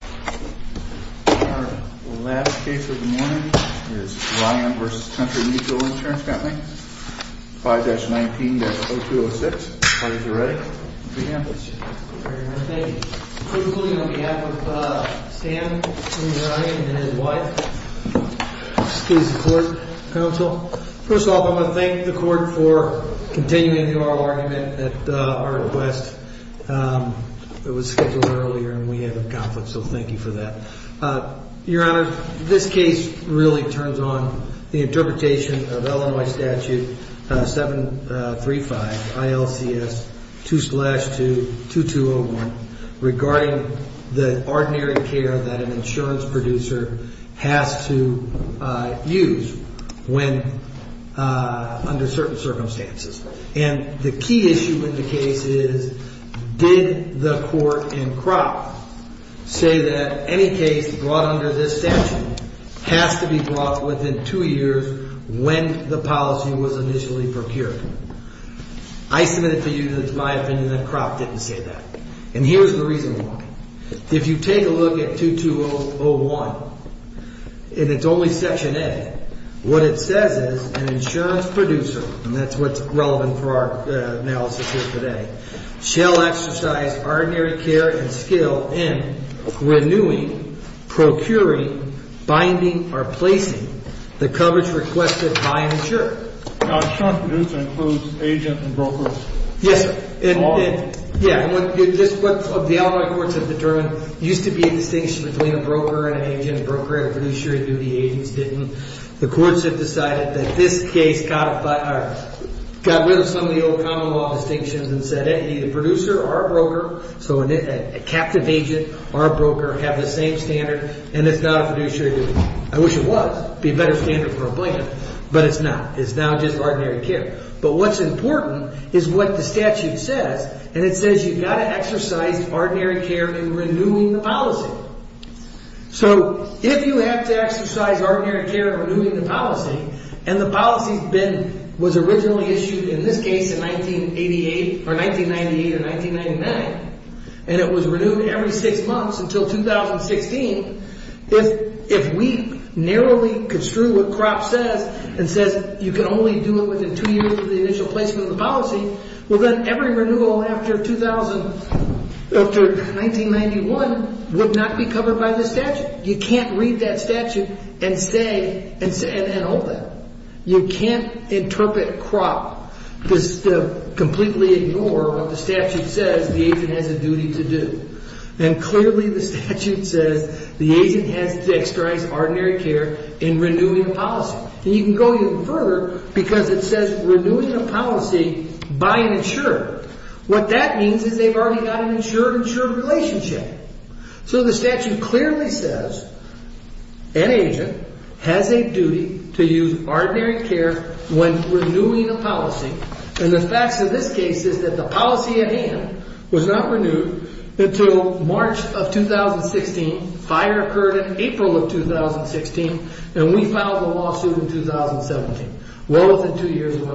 Our last case of the morning is Ryan v. Country Mutual Insurance Co. 5-19-0206. The parties are ready. Thank you. Thank you. I'm going to begin with Stan and his wife. Excuse the court, counsel. First off, I want to thank the court for continuing the oral argument at our request. It was scheduled earlier and we had a conflict, so thank you for that. Your Honor, this case really turns on the interpretation of Illinois Statute 735 ILCS 2-2201 regarding the ordinary care that an insurance producer has to use under certain circumstances. And the key issue in the case is, did the court in Kropp say that any case brought under this statute has to be brought within two years when the policy was initially procured? I submit it to you that it's my opinion that Kropp didn't say that. And here's the reason why. If you take a look at 2-201, and it's only Section A, what it says is an insurance producer, and that's what's relevant for our analysis here today, shall exercise ordinary care and skill in renewing, procuring, binding, or placing the coverage requested by an insurer. Insurance producer includes agent and broker. Yes, sir. What the Illinois courts have determined used to be a distinction between a broker and an agent. A broker had a fiduciary duty, agents didn't. The courts have decided that this case got rid of some of the old common law distinctions and said any producer or a broker, so a captive agent or a broker have the same standard, and it's not a fiduciary duty. I wish it was. It would be a better standard for a blanket, but it's not. It's not just ordinary care. But what's important is what the statute says, and it says you've got to exercise ordinary care in renewing the policy. So if you have to exercise ordinary care in renewing the policy, and the policy was originally issued in this case in 1998 or 1999, and it was renewed every six months until 2016, if we narrowly construe what CROP says and says you can only do it within two years of the initial placement of the policy, well, then every renewal after 1991 would not be covered by this statute. You can't read that statute and hold that. You can't interpret CROP to completely ignore what the statute says the agent has a duty to do. And clearly the statute says the agent has to exercise ordinary care in renewing the policy. And you can go even further because it says renewing the policy by an insurer. What that means is they've already got an insured-insured relationship. So the statute clearly says an agent has a duty to use ordinary care when renewing a policy, and the facts of this case is that the policy at hand was not renewed until March of 2016. Fire occurred in April of 2016, and we filed the lawsuit in 2017, well within two years when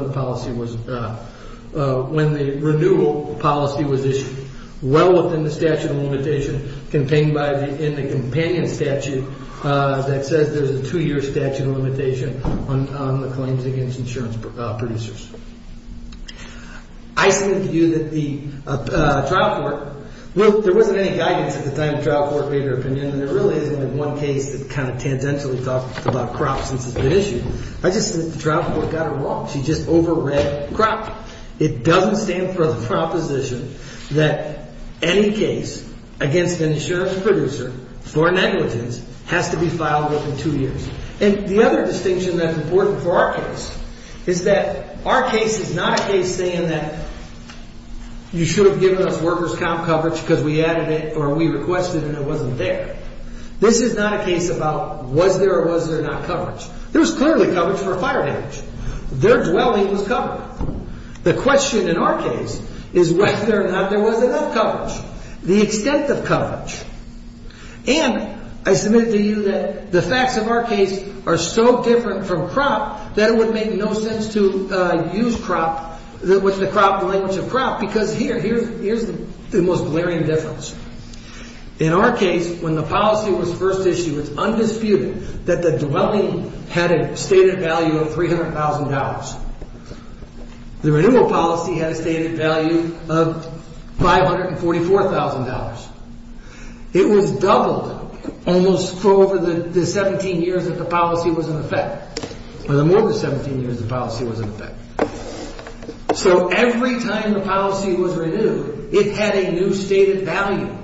the renewal policy was issued, well within the statute of limitation contained in the companion statute that says there's a two-year statute of limitation on the claims against insurance producers. I submit to you that the trial court, well, there wasn't any guidance at the time the trial court made their opinion, and there really isn't one case that kind of tangentially talked about CROP since it's been issued. I just think the trial court got it wrong. She just over-read CROP. It doesn't stand for the proposition that any case against an insurance producer for negligence has to be filed within two years. And the other distinction that's important for our case is that our case is not a case saying that you should have given us workers' comp coverage because we added it or we requested it and it wasn't there. This is not a case about was there or was there not coverage. There was clearly coverage for fire damage. Their dwelling was covered. The question in our case is whether or not there was enough coverage, the extent of coverage. And I submit to you that the facts of our case are so different from CROP that it would make no sense to use CROP with the language of CROP because here's the most glaring difference. In our case, when the policy was first issued, it's undisputed that the dwelling had a stated value of $300,000. The renewal policy had a stated value of $544,000. It was doubled almost for over the 17 years that the policy was in effect. For the more than 17 years the policy was in effect. So every time the policy was renewed, it had a new stated value.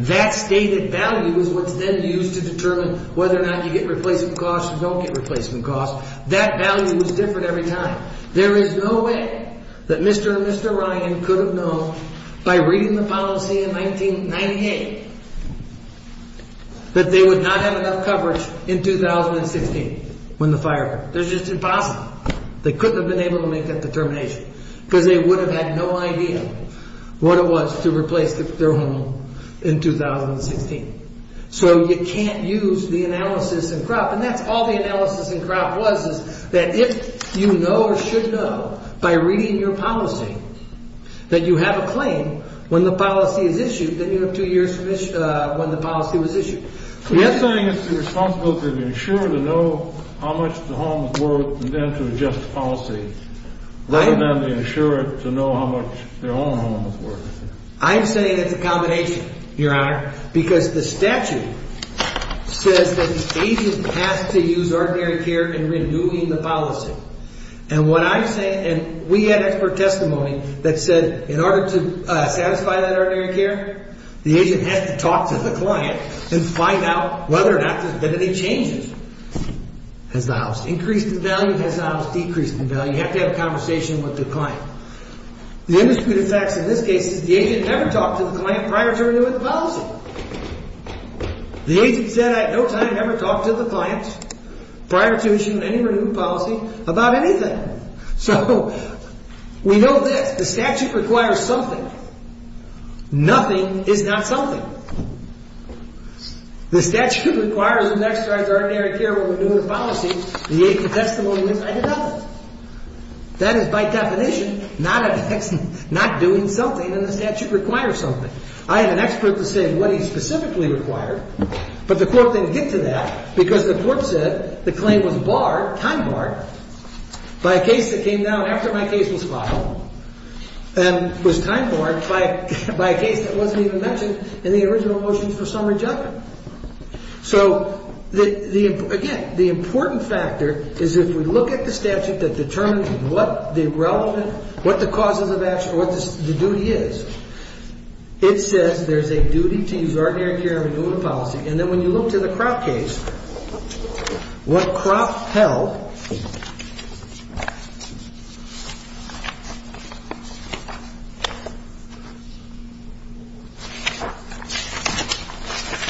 That stated value is what's then used to determine whether or not you get replacement costs or don't get replacement costs. That value is different every time. There is no way that Mr. and Mr. Ryan could have known by reading the policy in 1998 that they would not have enough coverage in 2016 when the fire occurred. That's just impossible. They couldn't have been able to make that determination because they would have had no idea what it was to replace their home in 2016. So you can't use the analysis in CROP. And that's all the analysis in CROP was is that if you know or should know by reading your policy that you have a claim when the policy is issued, then you have two years when the policy was issued. So you're saying it's the responsibility of the insurer to know how much the home is worth and then to adjust the policy rather than the insurer to know how much their own home is worth. I'm saying it's a combination, Your Honor, because the statute says that the agent has to use ordinary care in renewing the policy. And we had expert testimony that said in order to satisfy that ordinary care, the agent has to talk to the client and find out whether or not there's been any changes. Has the house increased in value? Has the house decreased in value? You have to have a conversation with the client. The undisputed fact in this case is the agent never talked to the client prior to renewing the policy. So the agent said I had no time to ever talk to the client prior to issuing any renewed policy about anything. So we know this. The statute requires something. Nothing is not something. The statute requires an extraordinary care when renewing a policy. The agent testimony went, I did nothing. That is by definition not doing something. And the statute requires something. I have an expert to say what he specifically required. But the court didn't get to that because the court said the claim was barred, time barred, by a case that came down after my case was filed and was time barred by a case that wasn't even mentioned in the original motions for summary judgment. So, again, the important factor is if we look at the statute that determines what the relevant, what the causes of action, what the duty is, it says there's a duty to use ordinary care when renewing a policy. And then when you look to the Kropp case, what Kropp held,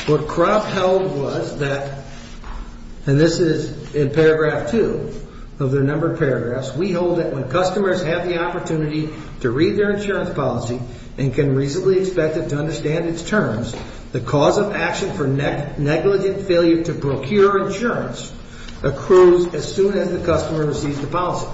what Kropp held was that, and this is in paragraph two of the number of paragraphs, we hold that when customers have the opportunity to read their insurance policy and can reasonably expect it to understand its terms, the cause of action for negligent failure to procure insurance accrues as soon as the customer receives the policy.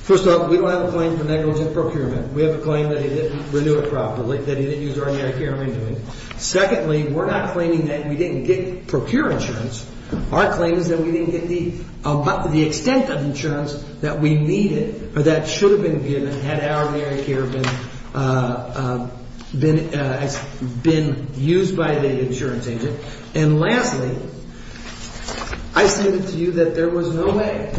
First off, we don't have a claim for negligent procurement. We have a claim that he didn't renew it properly, that he didn't use ordinary care when renewing it. Secondly, we're not claiming that we didn't procure insurance. Our claim is that we didn't get the extent of insurance that we needed or that should have been given had ordinary care been used by the insurance agent. And lastly, I stated to you that there was no way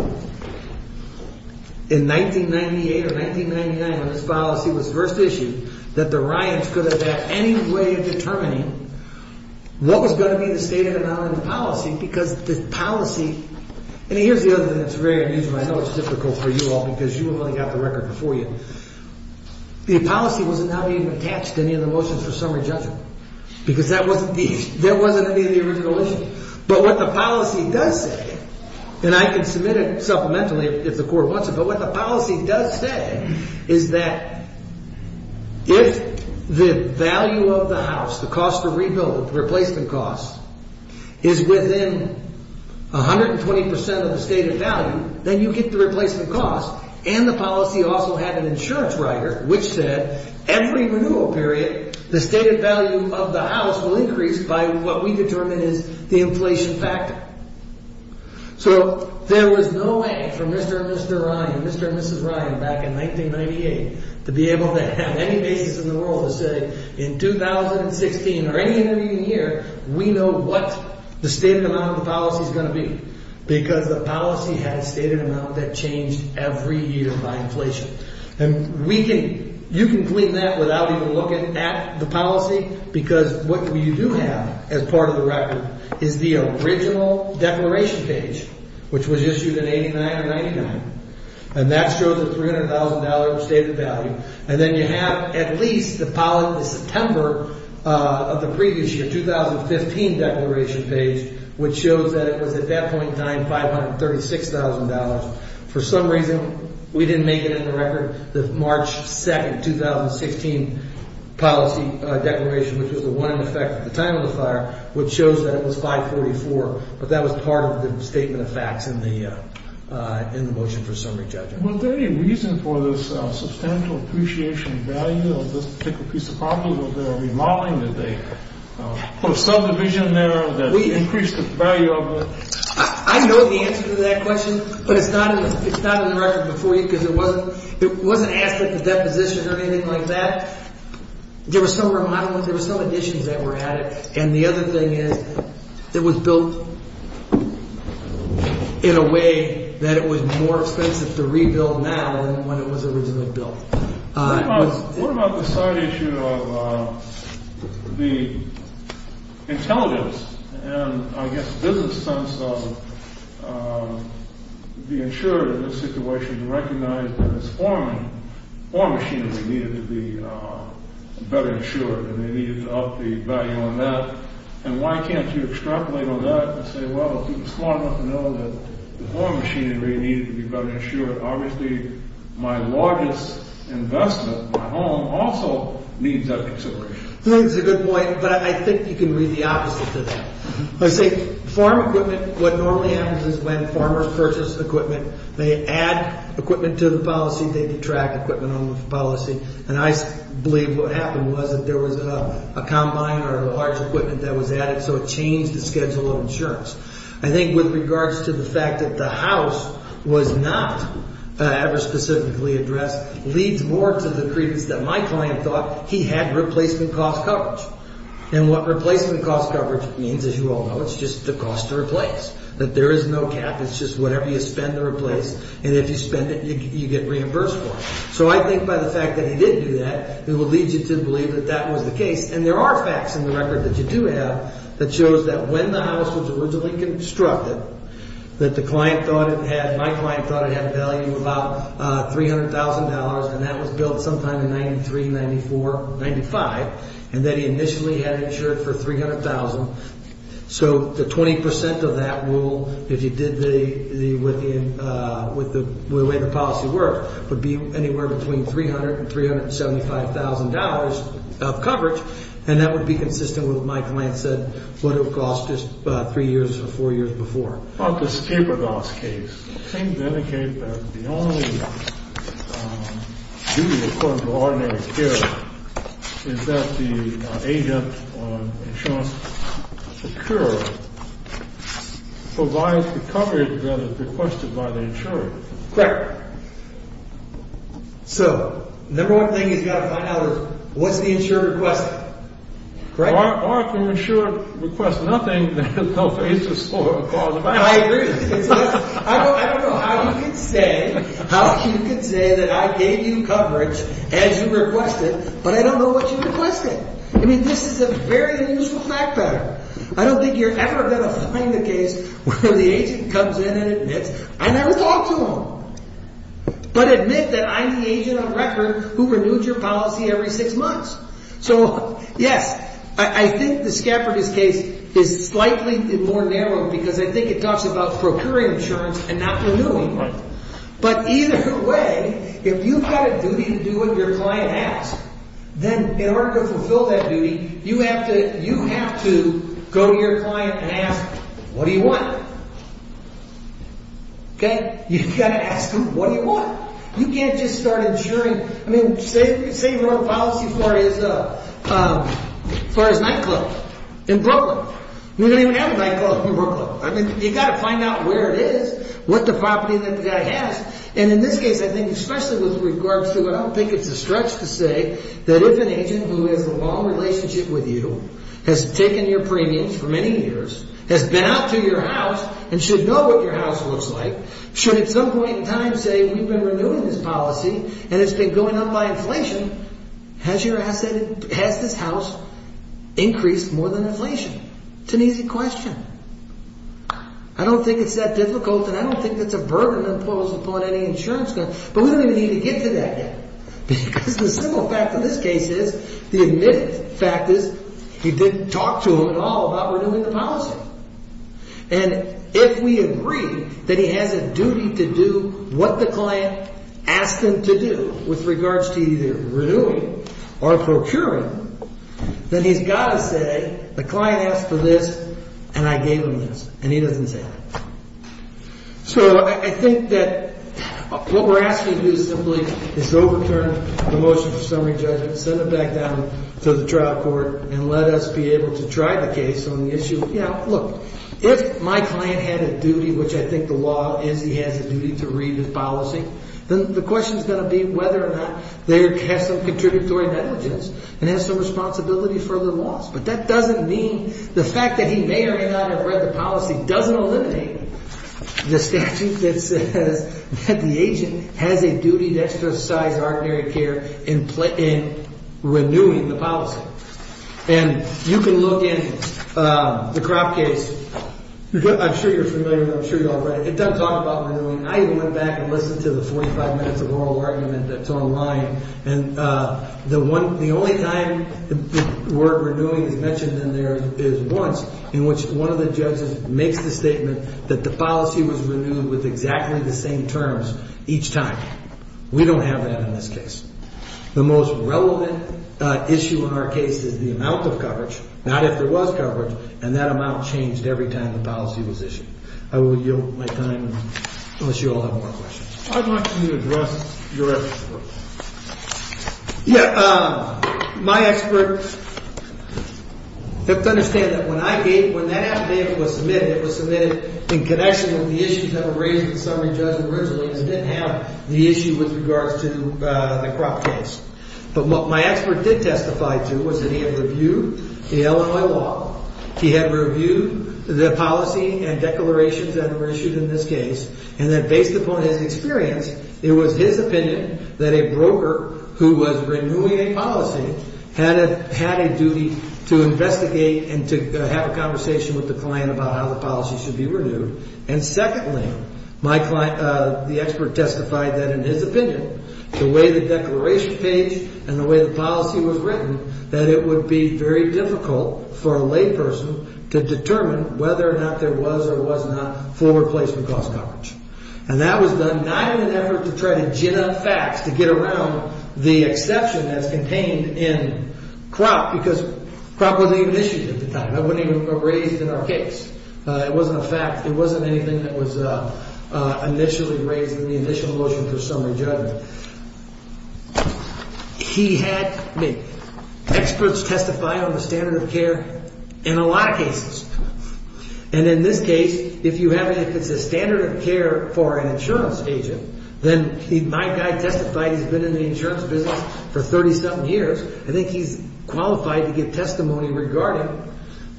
in 1998 or 1999 when this policy was first issued that the Ryans could have had any way of determining what was going to be the stated amount of the policy because the policy, and here's the other thing that's very unusual. I know it's difficult for you all because you only got the record before you. The policy wasn't now being attached to any of the motions for summary judgment because that wasn't any of the original issue. But what the policy does say, and I can submit it supplementally if the court wants it, but what the policy does say is that if the value of the house, the cost to rebuild, the replacement cost, is within 120 percent of the stated value, then you get the replacement cost and the policy also had an insurance rider which said every renewal period the stated value of the house will increase by what we determine is the inflation factor. So there was no way for Mr. and Mrs. Ryan back in 1998 to be able to have any basis in the world to say in 2016 or any other year we know what the stated amount of the policy is going to be because the policy had a stated amount that changed every year by inflation. And you can clean that without even looking at the policy because what you do have as part of the record is the original declaration page, which was issued in 89 or 99, and that shows a $300,000 stated value. And then you have at least the September of the previous year, 2015 declaration page, which shows that it was at that point $9,536,000. For some reason, we didn't make it in the record, the March 2, 2016 policy declaration, which was the one in effect at the time of the fire, which shows that it was $544,000, but that was part of the statement of facts in the motion for summary judgment. Was there any reason for this substantial appreciation value of this particular piece of property? Was there a remodeling? Did they put a subdivision there that increased the value of it? I know the answer to that question, but it's not in the record before you because it wasn't asked at the depositions or anything like that. There were some remodelings. There were some additions that were added, and the other thing is it was built in a way that it was more expensive to rebuild now than when it was originally built. What about the side issue of the intelligence and, I guess, business sense of the insurer in this situation to recognize that it's foreign machinery needed to be better insured, and they needed to up the value on that? And why can't you extrapolate on that and say, well, if he was smart enough to know that the foreign machinery needed to be better insured, obviously my largest investment, my home, also needs that consideration? That's a good point, but I think you can read the opposite to that. I say foreign equipment, what normally happens is when farmers purchase equipment, they add equipment to the policy, they detract equipment on the policy, and I believe what happened was that there was a combine or a large equipment that was added, so it changed the schedule of insurance. I think with regards to the fact that the house was not ever specifically addressed leads more to the credence that my client thought he had replacement cost coverage, and what replacement cost coverage means, as you all know, it's just the cost to replace, that there is no cap. It's just whatever you spend to replace, and if you spend it, you get reimbursed for it. So I think by the fact that he did do that, it would lead you to believe that that was the case, and there are facts in the record that you do have that shows that when the house was originally constructed, that the client thought it had, my client thought it had value of about $300,000, and that was built sometime in 93, 94, 95, and that he initially had it insured for $300,000, so the 20% of that rule, if you did the way the policy worked, would be anywhere between $300,000 and $375,000 of coverage, and that would be consistent with what my client said would have cost us three years or four years before. About the scapegoats case, it seems to indicate that the only duty according to ordinary care is that the agent or insurance procurer provides the coverage that is requested by the insurer. Correct. So the number one thing he's got to find out is what's the insurer requesting, correct? Or if the insurer requests nothing, then they'll face a slower cost. I agree. I don't know how you can say that I gave you coverage as you requested, but I don't know what you requested. I mean, this is a very useful fact pattern. I don't think you're ever going to find a case where the agent comes in and admits, I never talked to him, but admit that I'm the agent on record who renewed your policy every six months. So yes, I think the scapegoat case is slightly more narrow because I think it talks about procuring insurance and not renewing. But either way, if you've got a duty to do what your client asks, then in order to fulfill that duty, you have to go to your client and ask, what do you want? You've got to ask them, what do you want? You can't just start insuring. I mean, say you wrote a policy for his nightclub in Brooklyn. We don't even have a nightclub in Brooklyn. I mean, you've got to find out where it is, what the property that guy has. And in this case, I think especially with regards to what I think it's a stretch to say that if an agent who has a long relationship with you, has taken your premiums for many years, has been out to your house and should know what your house looks like, should at some point in time say, we've been renewing this policy and it's been going up by inflation, has this house increased more than inflation? It's an easy question. I don't think it's that difficult and I don't think that's a burden imposed upon any insurance company. But we don't even need to get to that yet. Because the simple fact of this case is, the admitted fact is, he didn't talk to him at all about renewing the policy. And if we agree that he has a duty to do what the client asked him to do with regards to either renewing or procuring, then he's got to say, the client asked for this and I gave him this. And he doesn't say that. So I think that what we're asking to do simply is overturn the motion for summary judgment, send it back down to the trial court and let us be able to try the case on the issue. Yeah, look, if my client had a duty, which I think the law is he has a duty to read the policy, then the question is going to be whether or not they have some contributory negligence and have some responsibility for the loss. But that doesn't mean the fact that he may or may not have read the policy doesn't eliminate the statute that says that the agent has a duty to exercise ordinary care in renewing the policy. And you can look in the Kropp case. I'm sure you're familiar with it. I'm sure you all read it. It does talk about renewing. I even went back and listened to the 45 minutes of oral argument that's online. And the only time the word renewing is mentioned in there is once in which one of the judges makes the statement that the policy was renewed with exactly the same terms each time. We don't have that in this case. The most relevant issue in our case is the amount of coverage, not if there was coverage. And that amount changed every time the policy was issued. I will yield my time unless you all have more questions. I'd like to address your expert. Yeah, my expert, you have to understand that when I gave, when that affidavit was submitted, it was submitted in connection with the issues that were raised with the summary judge originally because it didn't have the issue with regards to the Kropp case. But what my expert did testify to was that he had reviewed the Illinois law. He had reviewed the policy and declarations that were issued in this case. And that based upon his experience, it was his opinion that a broker who was renewing a policy had a, had a duty to investigate and to have a conversation with the client about how the policy should be renewed. And secondly, my client, the expert testified that in his opinion, the way the declaration page and the way the policy was written, that it would be very difficult for a lay person to determine whether or not there was or was not forward placement cost coverage. And that was done not in an effort to try to gin up facts, to get around the exception that's contained in Kropp because Kropp wasn't even issued at the time. That wasn't even raised in our case. It wasn't a fact. It wasn't anything that was initially raised in the initial motion to the summary judge. He had experts testify on the standard of care in a lot of cases. And in this case, if you have, if it's a standard of care for an insurance agent, then my guy testified, he's been in the insurance business for 30 something years. I think he's qualified to give testimony regarding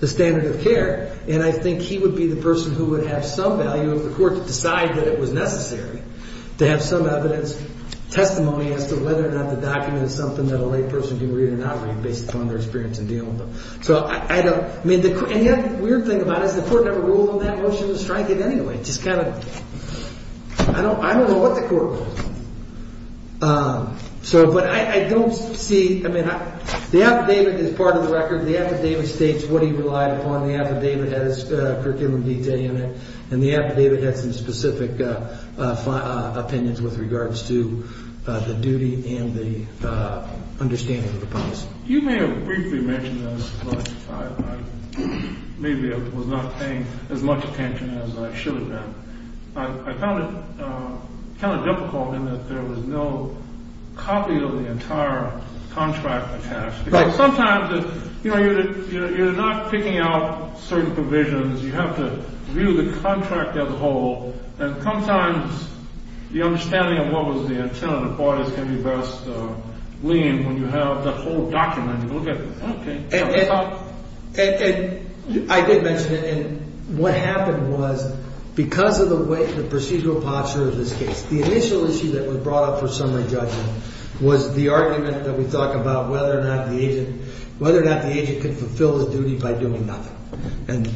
the standard of care. And I think he would be the person who would have some value of the court to decide that it was necessary to have some evidence, testimony as to whether or not the document is something that a lay person can read or not read based upon their experience in dealing with them. So I don't, I mean, the weird thing about it is the court never ruled on that motion to strike it anyway. It just kind of, I don't know what the court ruled. So, but I don't see, I mean, the affidavit is part of the record. The affidavit states what he relied upon. The affidavit has curriculum detail in it. And the affidavit has some specific opinions with regards to the duty and the understanding of the promise. You may have briefly mentioned this, but I maybe was not paying as much attention as I should have been. I found it kind of difficult in that there was no copy of the entire contract attached. Because sometimes, you know, you're not picking out certain provisions. You have to view the contract as a whole. And sometimes the understanding of what was the intent of the parties can be best gleaned when you have the whole document. And I did mention it. And what happened was because of the way the procedural posture of this case, the initial issue that was brought up for summary judgment was the argument that we talk about whether or not the agent, whether or not the agent could fulfill his duty by doing nothing. And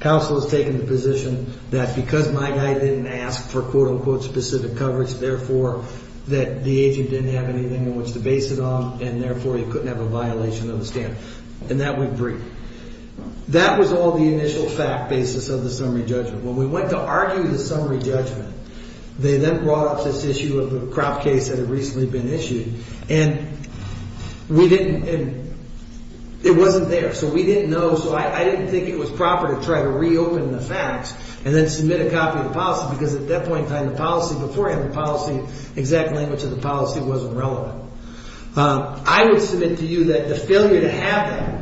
counsel has taken the position that because my guy didn't ask for quote unquote specific coverage, therefore, that the agent didn't have anything in which to base it on. And therefore, you couldn't have a violation of the standard. And that we agree. That was all the initial fact basis of the summary judgment. When we went to argue the summary judgment, they then brought up this issue of the crop case that had recently been issued. And we didn't. It wasn't there. So we didn't know. So I didn't think it was proper to try to reopen the facts and then submit a copy of the policy. Because at that point in time, the policy before him, the policy, exact language of the policy wasn't relevant. I would submit to you that the failure to have that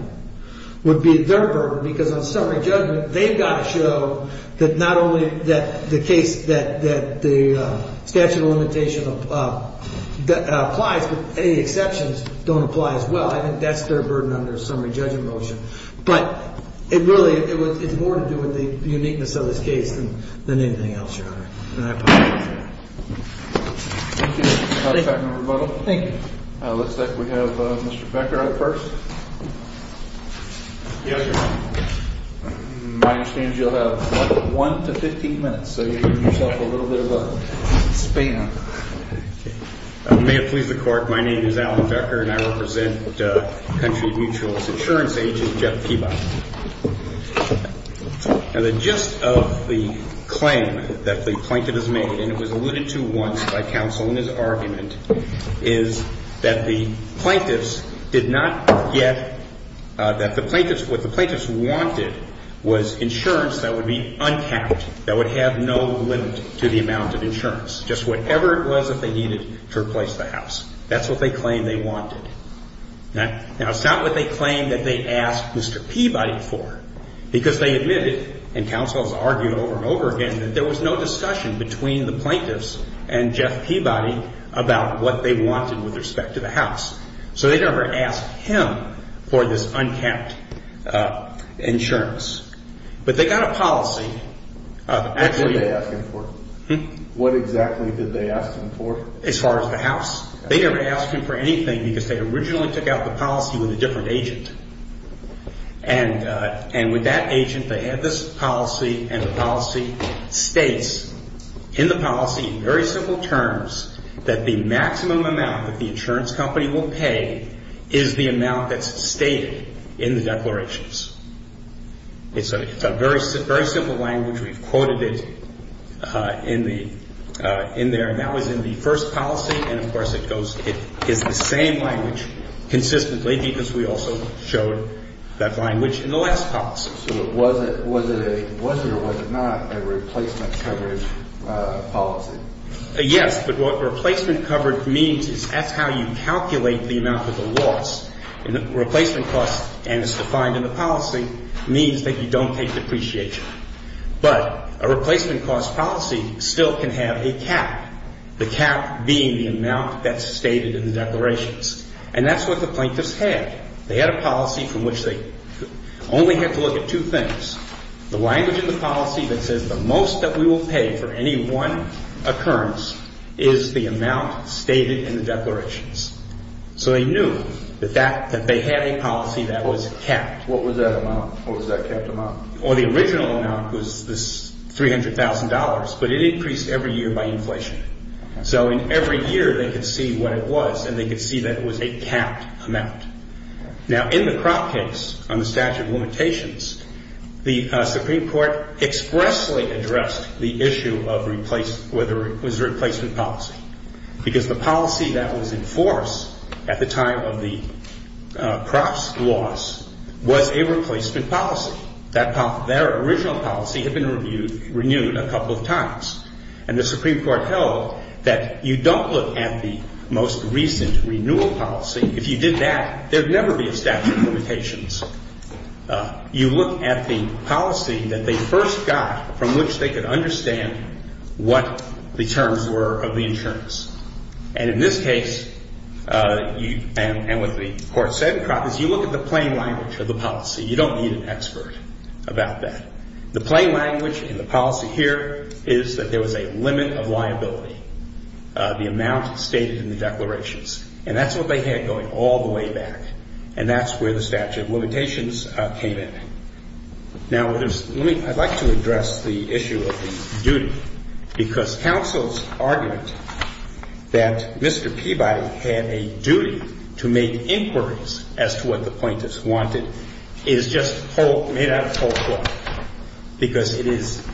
would be their burden. Because on summary judgment, they've got to show that not only that the case that the statute of limitation applies, but any exceptions don't apply as well. I think that's their burden on their summary judgment motion. But it really, it's more to do with the uniqueness of this case than anything else, Your Honor. And I apologize for that. Thank you. Thank you. Looks like we have Mr. Becker up first. Yes, Your Honor. My understanding is you'll have, what, one to 15 minutes. So you're giving yourself a little bit of a span. May it please the Court, my name is Alan Becker, and I represent Country Mutual's insurance agent, Jeff Kebab. Now the gist of the claim that the plaintiff has made, and it was alluded to once by counsel in his argument, is that the plaintiffs did not get, that the plaintiffs, what the plaintiffs wanted was insurance that would be uncount, that would have no limit to the amount of insurance, just whatever it was that they needed to replace the house. That's what they claim they wanted. Now it's not what they claim that they asked Mr. Peabody for, because they admitted, and counsel has argued over and over again, that there was no discussion between the plaintiffs and Jeff Peabody about what they wanted with respect to the house. So they never asked him for this uncount insurance. But they got a policy. What did they ask him for? What exactly did they ask him for? As far as the house? They never asked him for anything because they originally took out the policy with a different agent. And with that agent, they had this policy, and the policy states, in the policy, in very simple terms, that the maximum amount that the insurance company will pay is the amount that's stated in the declarations. It's a very simple language. We've quoted it in there. And that was in the first policy. And, of course, it is the same language consistently because we also showed that language in the last policy. So was it or was it not a replacement coverage policy? Yes, but what replacement coverage means is that's how you calculate the amount of the loss. And the replacement cost, and it's defined in the policy, means that you don't take depreciation. But a replacement cost policy still can have a cap. The cap being the amount that's stated in the declarations. And that's what the plaintiffs had. They had a policy from which they only had to look at two things. The language in the policy that says the most that we will pay for any one occurrence is the amount stated in the declarations. So they knew that they had a policy that was capped. What was that amount? What was that capped amount? Well, the original amount was this $300,000, but it increased every year by inflation. So in every year they could see what it was and they could see that it was a capped amount. Now, in the crop case on the statute of limitations, the Supreme Court expressly addressed the issue of whether it was a replacement policy. Because the policy that was in force at the time of the crop's loss was a replacement policy. Their original policy had been renewed a couple of times. And the Supreme Court held that you don't look at the most recent renewal policy. If you did that, there would never be a statute of limitations. You look at the policy that they first got from which they could understand what the terms were of the insurance. And in this case, and what the court said in crop is you look at the plain language of the policy. You don't need an expert about that. The plain language in the policy here is that there was a limit of liability, the amount stated in the declarations. And that's what they had going all the way back. And that's where the statute of limitations came in. Now, I'd like to address the issue of duty. Because counsel's argument that Mr. Peabody had a duty to make inquiries as to what the plaintiffs wanted is just made out of cold blood. Because it is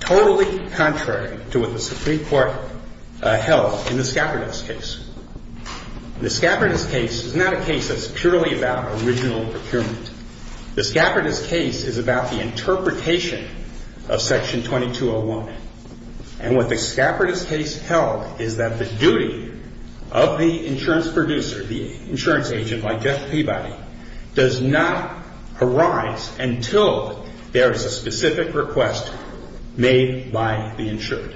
totally contrary to what the Supreme Court held in the scapardous case. The scapardous case is not a case that's purely about original procurement. The scapardous case is about the interpretation of section 2201. And what the scapardous case held is that the duty of the insurance producer, the insurance agent like Jeff Peabody, does not arise until there is a specific request made by the insured.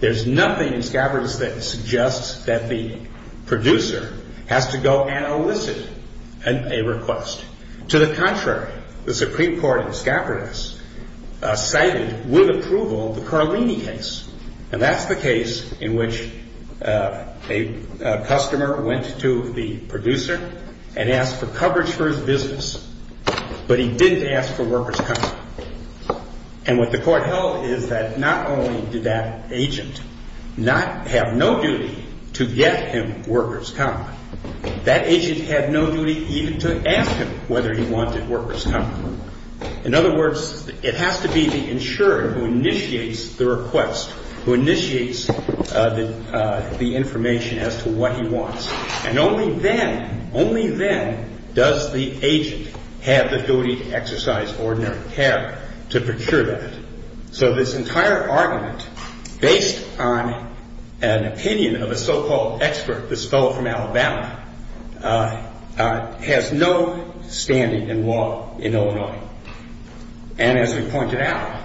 There's nothing in scapardous that suggests that the producer has to go and elicit a request. To the contrary, the Supreme Court in scapardous cited with approval the Carlini case. And that's the case in which a customer went to the producer and asked for coverage for his business. But he didn't ask for workers' coverage. And what the court held is that not only did that agent have no duty to get him workers' coverage, that agent had no duty even to ask him whether he wanted workers' coverage. In other words, it has to be the insured who initiates the request, who initiates the information as to what he wants. And only then, only then does the agent have the duty to exercise ordinary care to procure that. So this entire argument, based on an opinion of a so-called expert, this fellow from Alabama, has no standing in law in Illinois. And as we pointed out,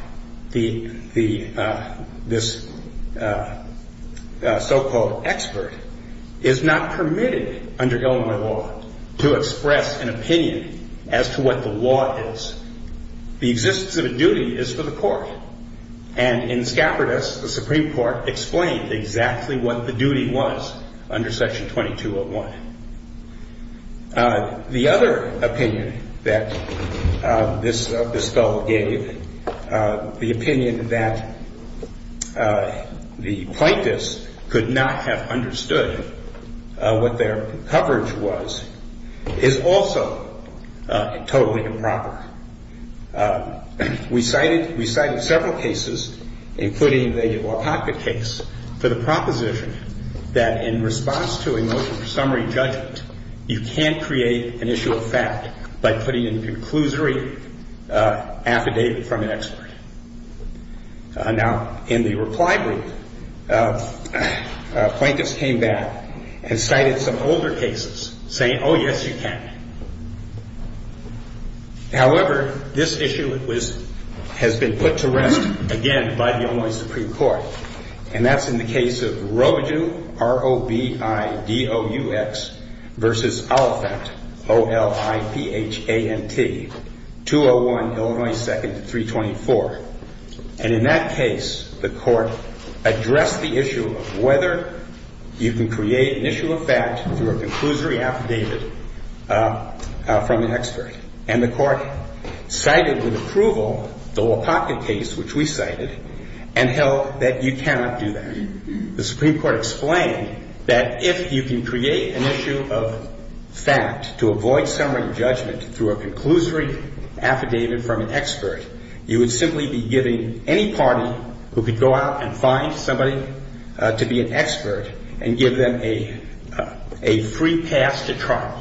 this so-called expert is not permitted under Illinois law to express an opinion as to what the law is. The existence of a duty is for the court. And in scapardous, the Supreme Court explained exactly what the duty was under Section 2201. The other opinion that this fellow gave, the opinion that the plaintiffs could not have understood what their coverage was, is also totally improper. We cited, we cited several cases, including the Iwopaka case, for the proposition that in response to a motion for summary judgment, you can't create an issue of fact by putting in a conclusory affidavit from an expert. Now, in the reply brief, plaintiffs came back and cited some older cases, saying, oh, yes, you can. However, this issue was, has been put to rest again by the Illinois Supreme Court. And that's in the case of Roju, R-O-B-I-D-O-U-X, versus Oliphant, O-L-I-P-H-A-N-T, 201, Illinois 2nd, 324. And in that case, the court addressed the issue of whether you can create an issue of fact through a conclusory affidavit from an expert. And the court cited with approval the Iwopaka case, which we cited, and held that you cannot do that. The Supreme Court explained that if you can create an issue of fact to avoid summary judgment through a conclusory affidavit from an expert, you would simply be giving any party who could go out and find somebody to be an expert and give them a free pass to trial.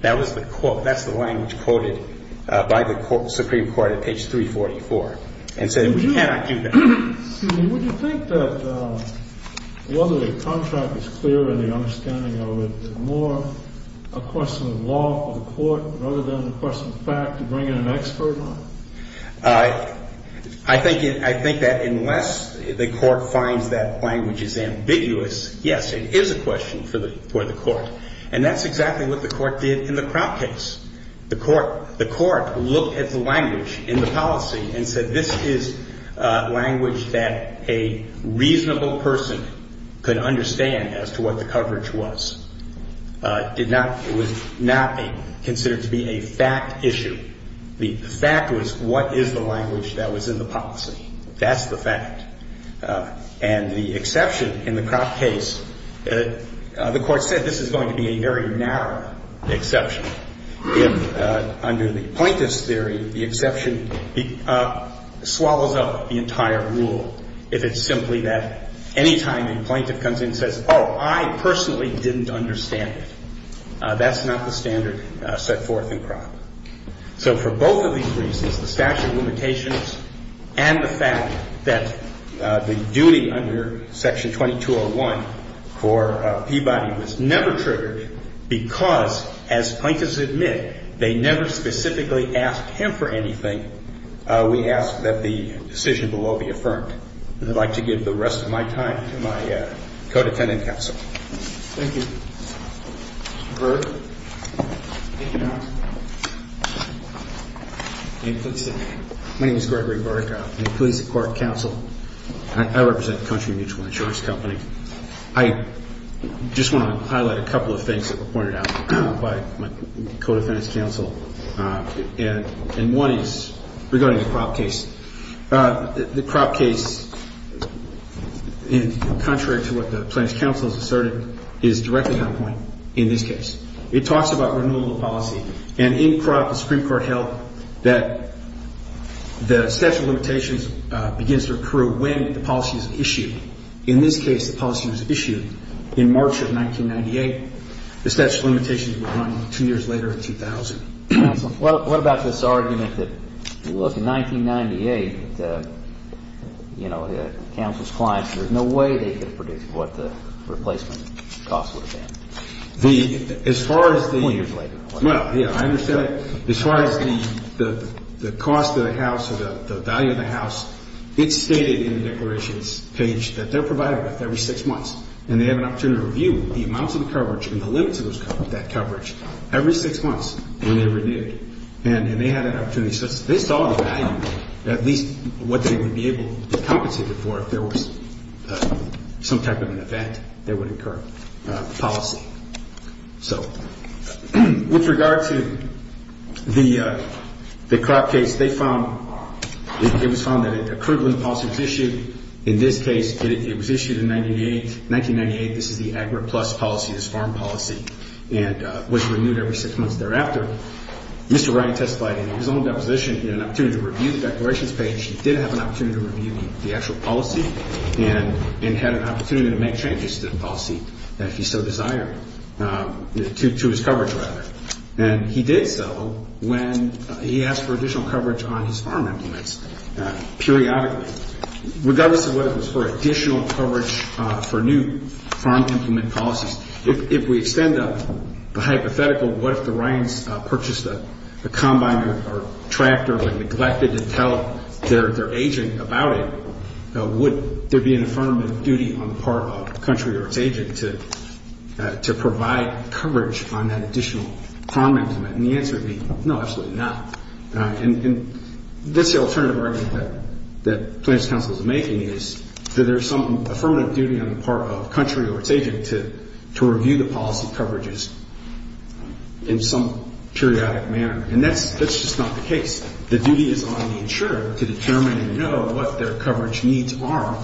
That was the court. That's the language quoted by the Supreme Court at page 344 and said we cannot do that. Would you think that whether the contract is clear and the understanding of it more a question of law for the court rather than a question of fact to bring in an expert on it? I think that unless the court finds that language is ambiguous, yes, it is a question for the court. And that's exactly what the court did in the Crout case. The court looked at the language in the policy and said this is language that a reasonable person could understand as to what the coverage was. It was not considered to be a fact issue. The fact was what is the language that was in the policy? That's the fact. And the exception in the Crout case, the court said this is going to be a very narrow exception. Under the plaintiff's theory, the exception swallows up the entire rule. If it's simply that any time the plaintiff comes in and says, oh, I personally didn't understand it, that's not the standard set forth in Crout. So for both of these reasons, the statute of limitations and the fact that the duty under Section 2201 for Peabody was never triggered because, as plaintiffs admit, they never specifically asked him for anything, we ask that the decision below be affirmed. And I'd like to give the rest of my time to my co-detendent counsel. Thank you. My name is Gregory Burke. I'm a police and court counsel. I represent Country Mutual Insurance Company. I just want to highlight a couple of things that were pointed out by my co-defendant's counsel. And one is regarding the Crout case. The Crout case, contrary to what the plaintiff's counsel has asserted, is directly on point in this case. It talks about renewable policy. And in Crout, the Supreme Court held that the statute of limitations begins to occur when the policy is issued. In this case, the policy was issued in March of 1998. The statute of limitations would run two years later in 2000. Counsel? What about this argument that, look, in 1998, you know, counsel's clients, there's no way they could have predicted what the replacement cost would have been? As far as the ---- Four years later. Well, yeah, I understand that. As far as the cost of the house or the value of the house, it's stated in the declarations page that they're provided with every six months. And they have an opportunity to review the amounts of coverage and the limits of that coverage every six months when they're renewed. And they had an opportunity. So they saw the value, at least what they would be able to compensate it for if there was some type of an event that would incur policy. So with regard to the Crout case, they found it was found that it occurred when the policy was issued. In this case, it was issued in 1998. This is the AGRA Plus policy, this farm policy, and was renewed every six months thereafter. Mr. Wright testified in his own deposition, he had an opportunity to review the declarations page. He did have an opportunity to review the actual policy and had an opportunity to make changes to the policy if he so desired, to his coverage rather. And he did so when he asked for additional coverage on his farm implements periodically. Regardless of whether it was for additional coverage for new farm implement policies, if we extend the hypothetical, what if the Ryan's purchased a combine or tractor but neglected to tell their agent about it, would there be an affirmative duty on the part of the country or its agent to provide coverage on that additional farm implement? And the answer would be no, absolutely not. And this alternative argument that Planned Parenthood Council is making is that there is some affirmative duty on the part of the country or its agent to review the policy coverages in some periodic manner. And that's just not the case. The duty is on the insurer to determine and know what their coverage needs are,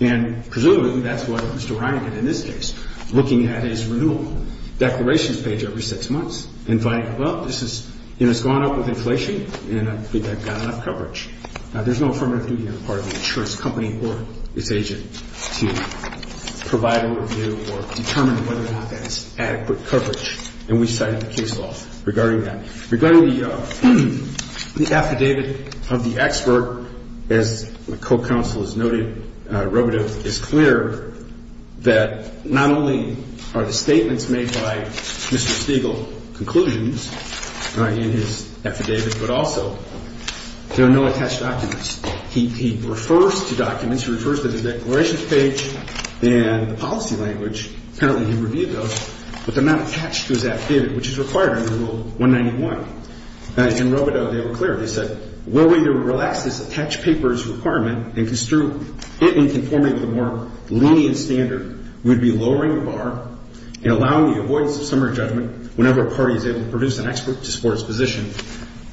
and presumably that's what Mr. Ryan did in this case, looking at his renewal declarations page every six months and finding, well, this has gone up with inflation and I think I've got enough coverage. There's no affirmative duty on the part of the insurance company or its agent to provide a review or determine whether or not that is adequate coverage. And we cited the case law regarding that. Regarding the affidavit of the expert, as my co-counsel has noted, Robitaille, it's clear that not only are the statements made by Mr. Stegall conclusions in his affidavit, but also there are no attached documents. He refers to documents. He refers to the declarations page and the policy language, apparently he reviewed those, but they're not attached to his affidavit, which is required under Rule 191. In Robitaille, they were clear. They said, where we would relax this attached papers requirement and construe it in conformity with a more lenient standard, we would be lowering the bar and allowing the avoidance of summary judgment whenever a party is able to produce an expert to support its position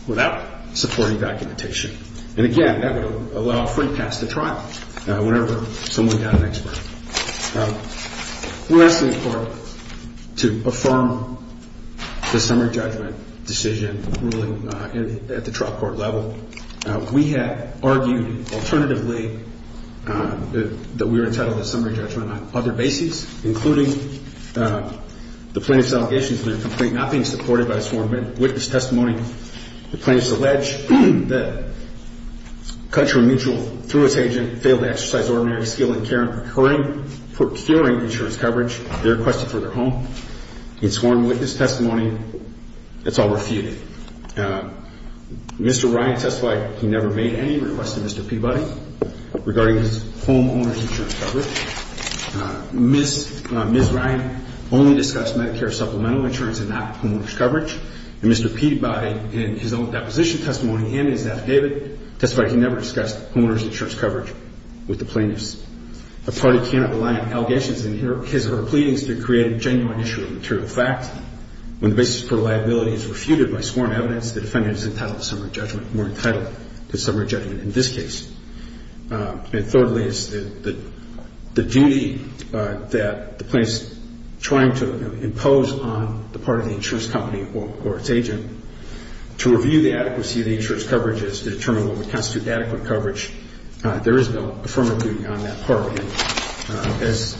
without supporting documentation. And, again, that would allow a free pass to trial whenever someone got an expert. We're asking the Court to affirm the summary judgment decision ruling at the trial court level. We have argued alternatively that we were entitled to summary judgment on other bases, including the plaintiff's allegations in their complaint not being supported by a sworn witness testimony. The plaintiff's alleged that Country Mutual, through its agent, failed to exercise ordinary skill in procuring insurance coverage they requested for their home. In sworn witness testimony, it's all refuted. Mr. Ryan testified he never made any requests to Mr. Peabody regarding his homeowner's insurance coverage. Ms. Ryan only discussed Medicare supplemental insurance and not homeowner's coverage. And Mr. Peabody, in his own deposition testimony, handed his affidavit, testified he never discussed homeowner's insurance coverage with the plaintiffs. A party cannot rely on allegations in his or her pleadings to create a genuine issue of material fact. When the basis for liability is refuted by sworn evidence, the defendant is entitled to summary judgment. We're entitled to summary judgment in this case. And thirdly, it's the duty that the plaintiff's trying to impose on the part of the insurance company or its agent to review the adequacy of the insurance coverage as to determine what would constitute adequate coverage. There is no affirmative duty on that part. And as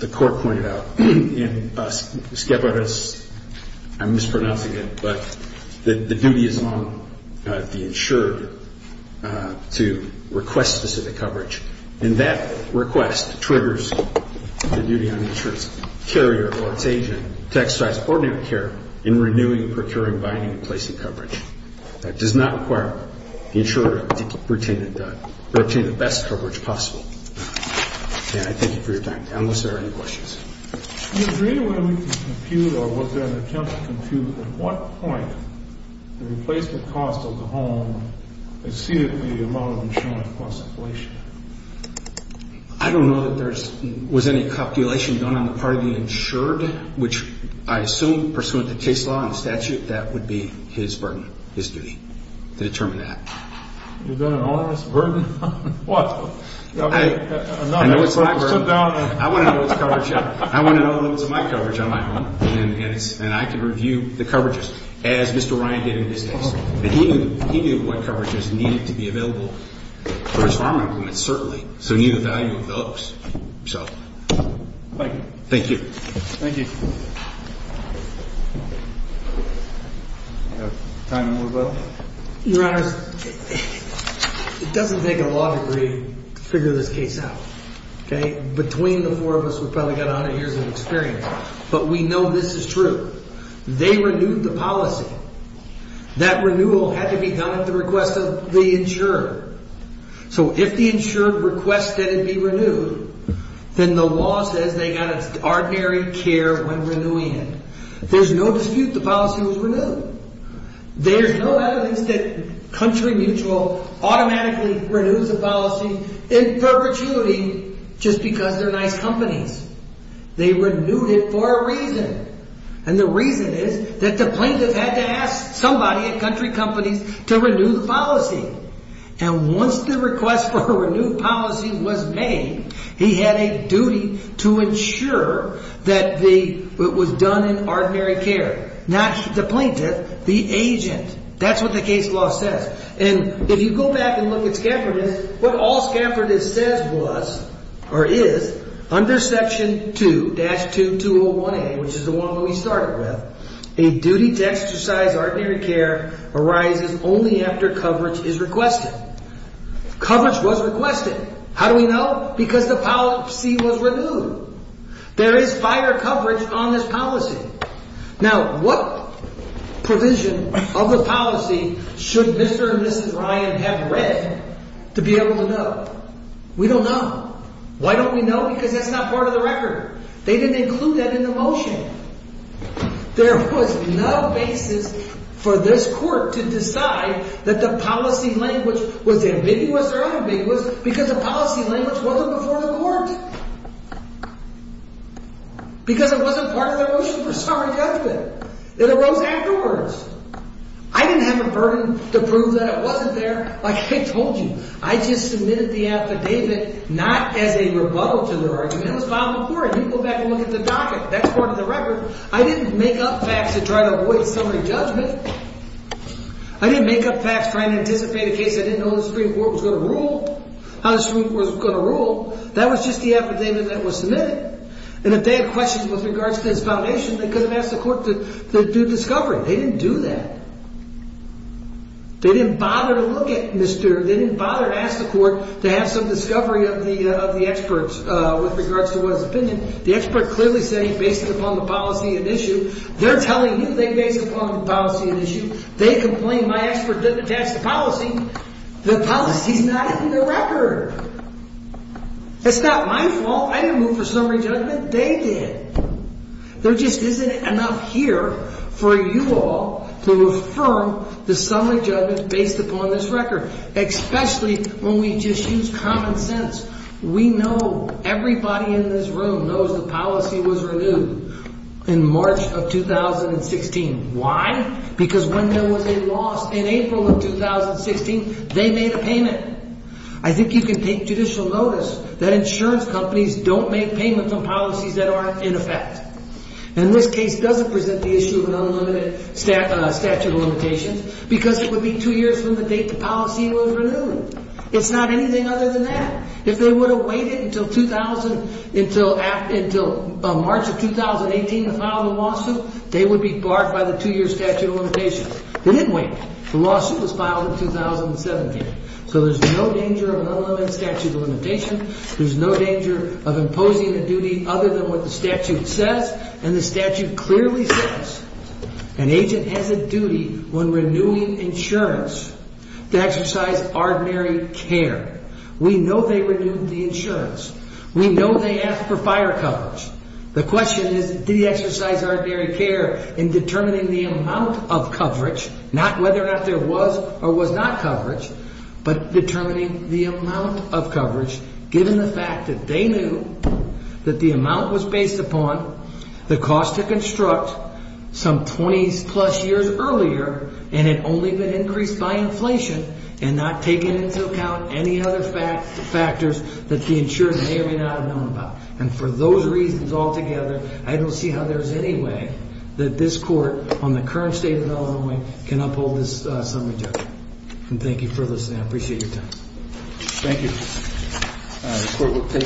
the Court pointed out, in SCEPARAS, I'm mispronouncing it, but the duty is on the insured to request specific coverage. And that request triggers the duty on the insured's carrier or its agent to exercise coordinated care in renewing, procuring, binding, and placing coverage. That does not require the insurer to retain the best coverage possible. And I thank you for your time, unless there are any questions. Do you agree with what we can compute, or was there an attempt to compute, at what point the replacement cost of the home exceeded the amount of insurance plus inflation? I don't know that there was any calculation done on the part of the insured, which I assume, pursuant to case law and statute, that would be his burden, his duty, to determine that. Is that an onerous burden? I want to know the limits of my coverage on my home, and I can review the coverages as Mr. Ryan did in his case. He knew what coverages needed to be available for his farm implements, certainly. So he knew the value of those. Thank you. Thank you. Thank you. Do we have time to move up? Your Honor, it doesn't take a law degree to figure this case out, okay? Between the four of us, we've probably got 100 years of experience. But we know this is true. They renewed the policy. That renewal had to be done at the request of the insured. So if the insured requested it be renewed, then the law says they got its ordinary care when renewing it. There's no dispute the policy was renewed. There's no evidence that Country Mutual automatically renews a policy in perpetuity just because they're nice companies. They renewed it for a reason. And the reason is that the plaintiff had to ask somebody at Country Companies to renew the policy. And once the request for a renewed policy was made, he had a duty to insure that it was done in ordinary care. Not the plaintiff, the agent. That's what the case law says. And if you go back and look at Scafford, what all Scafford says was, or is, under Section 2-2201A, which is the one we started with, a duty to exercise ordinary care arises only after coverage is requested. Coverage was requested. How do we know? Because the policy was renewed. There is prior coverage on this policy. Now, what provision of the policy should Mr. and Mrs. Ryan have read to be able to know? We don't know. Why don't we know? Because that's not part of the record. They didn't include that in the motion. There was no basis for this court to decide that the policy language was ambiguous or ambiguous because the policy language wasn't before the court. Because it wasn't part of their motion for summary judgment. It arose afterwards. I didn't have a burden to prove that it wasn't there. Like I told you, I just submitted the affidavit not as a rebuttal to their argument. It was filed before it. You can go back and look at the docket. That's part of the record. I didn't make up facts to try to avoid summary judgment. I didn't make up facts trying to anticipate a case I didn't know the Supreme Court was going to rule, how the Supreme Court was going to rule. That was just the affidavit that was submitted. And if they had questions with regards to this foundation, they could have asked the court to do discovery. They didn't do that. They didn't bother to look at Mr. – they didn't bother to ask the court to have some discovery of the experts with regards to his opinion. The expert clearly said he based it upon the policy at issue. They're telling you they based it upon the policy at issue. They complained my expert didn't attach the policy. The policy's not in the record. It's not my fault. I didn't move for summary judgment. They did. There just isn't enough here for you all to affirm the summary judgment based upon this record, especially when we just use common sense. We know everybody in this room knows the policy was renewed in March of 2016. Why? Because when there was a loss in April of 2016, they made a payment. I think you can take judicial notice that insurance companies don't make payments on policies that aren't in effect. And this case doesn't present the issue of an unlimited statute of limitations because it would be two years from the date the policy was renewed. It's not anything other than that. If they would have waited until March of 2018 to file the lawsuit, they would be barred by the two-year statute of limitations. They didn't wait. The lawsuit was filed in 2017. So there's no danger of an unlimited statute of limitations. There's no danger of imposing a duty other than what the statute says. And the statute clearly says an agent has a duty when renewing insurance to exercise ordinary care. We know they renewed the insurance. We know they asked for fire coverage. The question is, did he exercise ordinary care in determining the amount of coverage, not whether or not there was or was not coverage, but determining the amount of coverage given the fact that they knew that the amount was based upon the cost to construct some 20-plus years earlier and had only been increased by inflation and not taken into account any other factors that the insurer may or may not have known about. And for those reasons altogether, I don't see how there's any way that this court on the current state of Illinois can uphold this summary judgment. And thank you for listening. I appreciate your time. Thank you. The court will take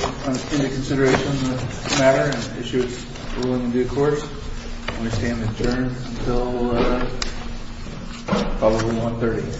into consideration the matter and issue its ruling in due course. I'm going to stand adjourned until probably 1.30.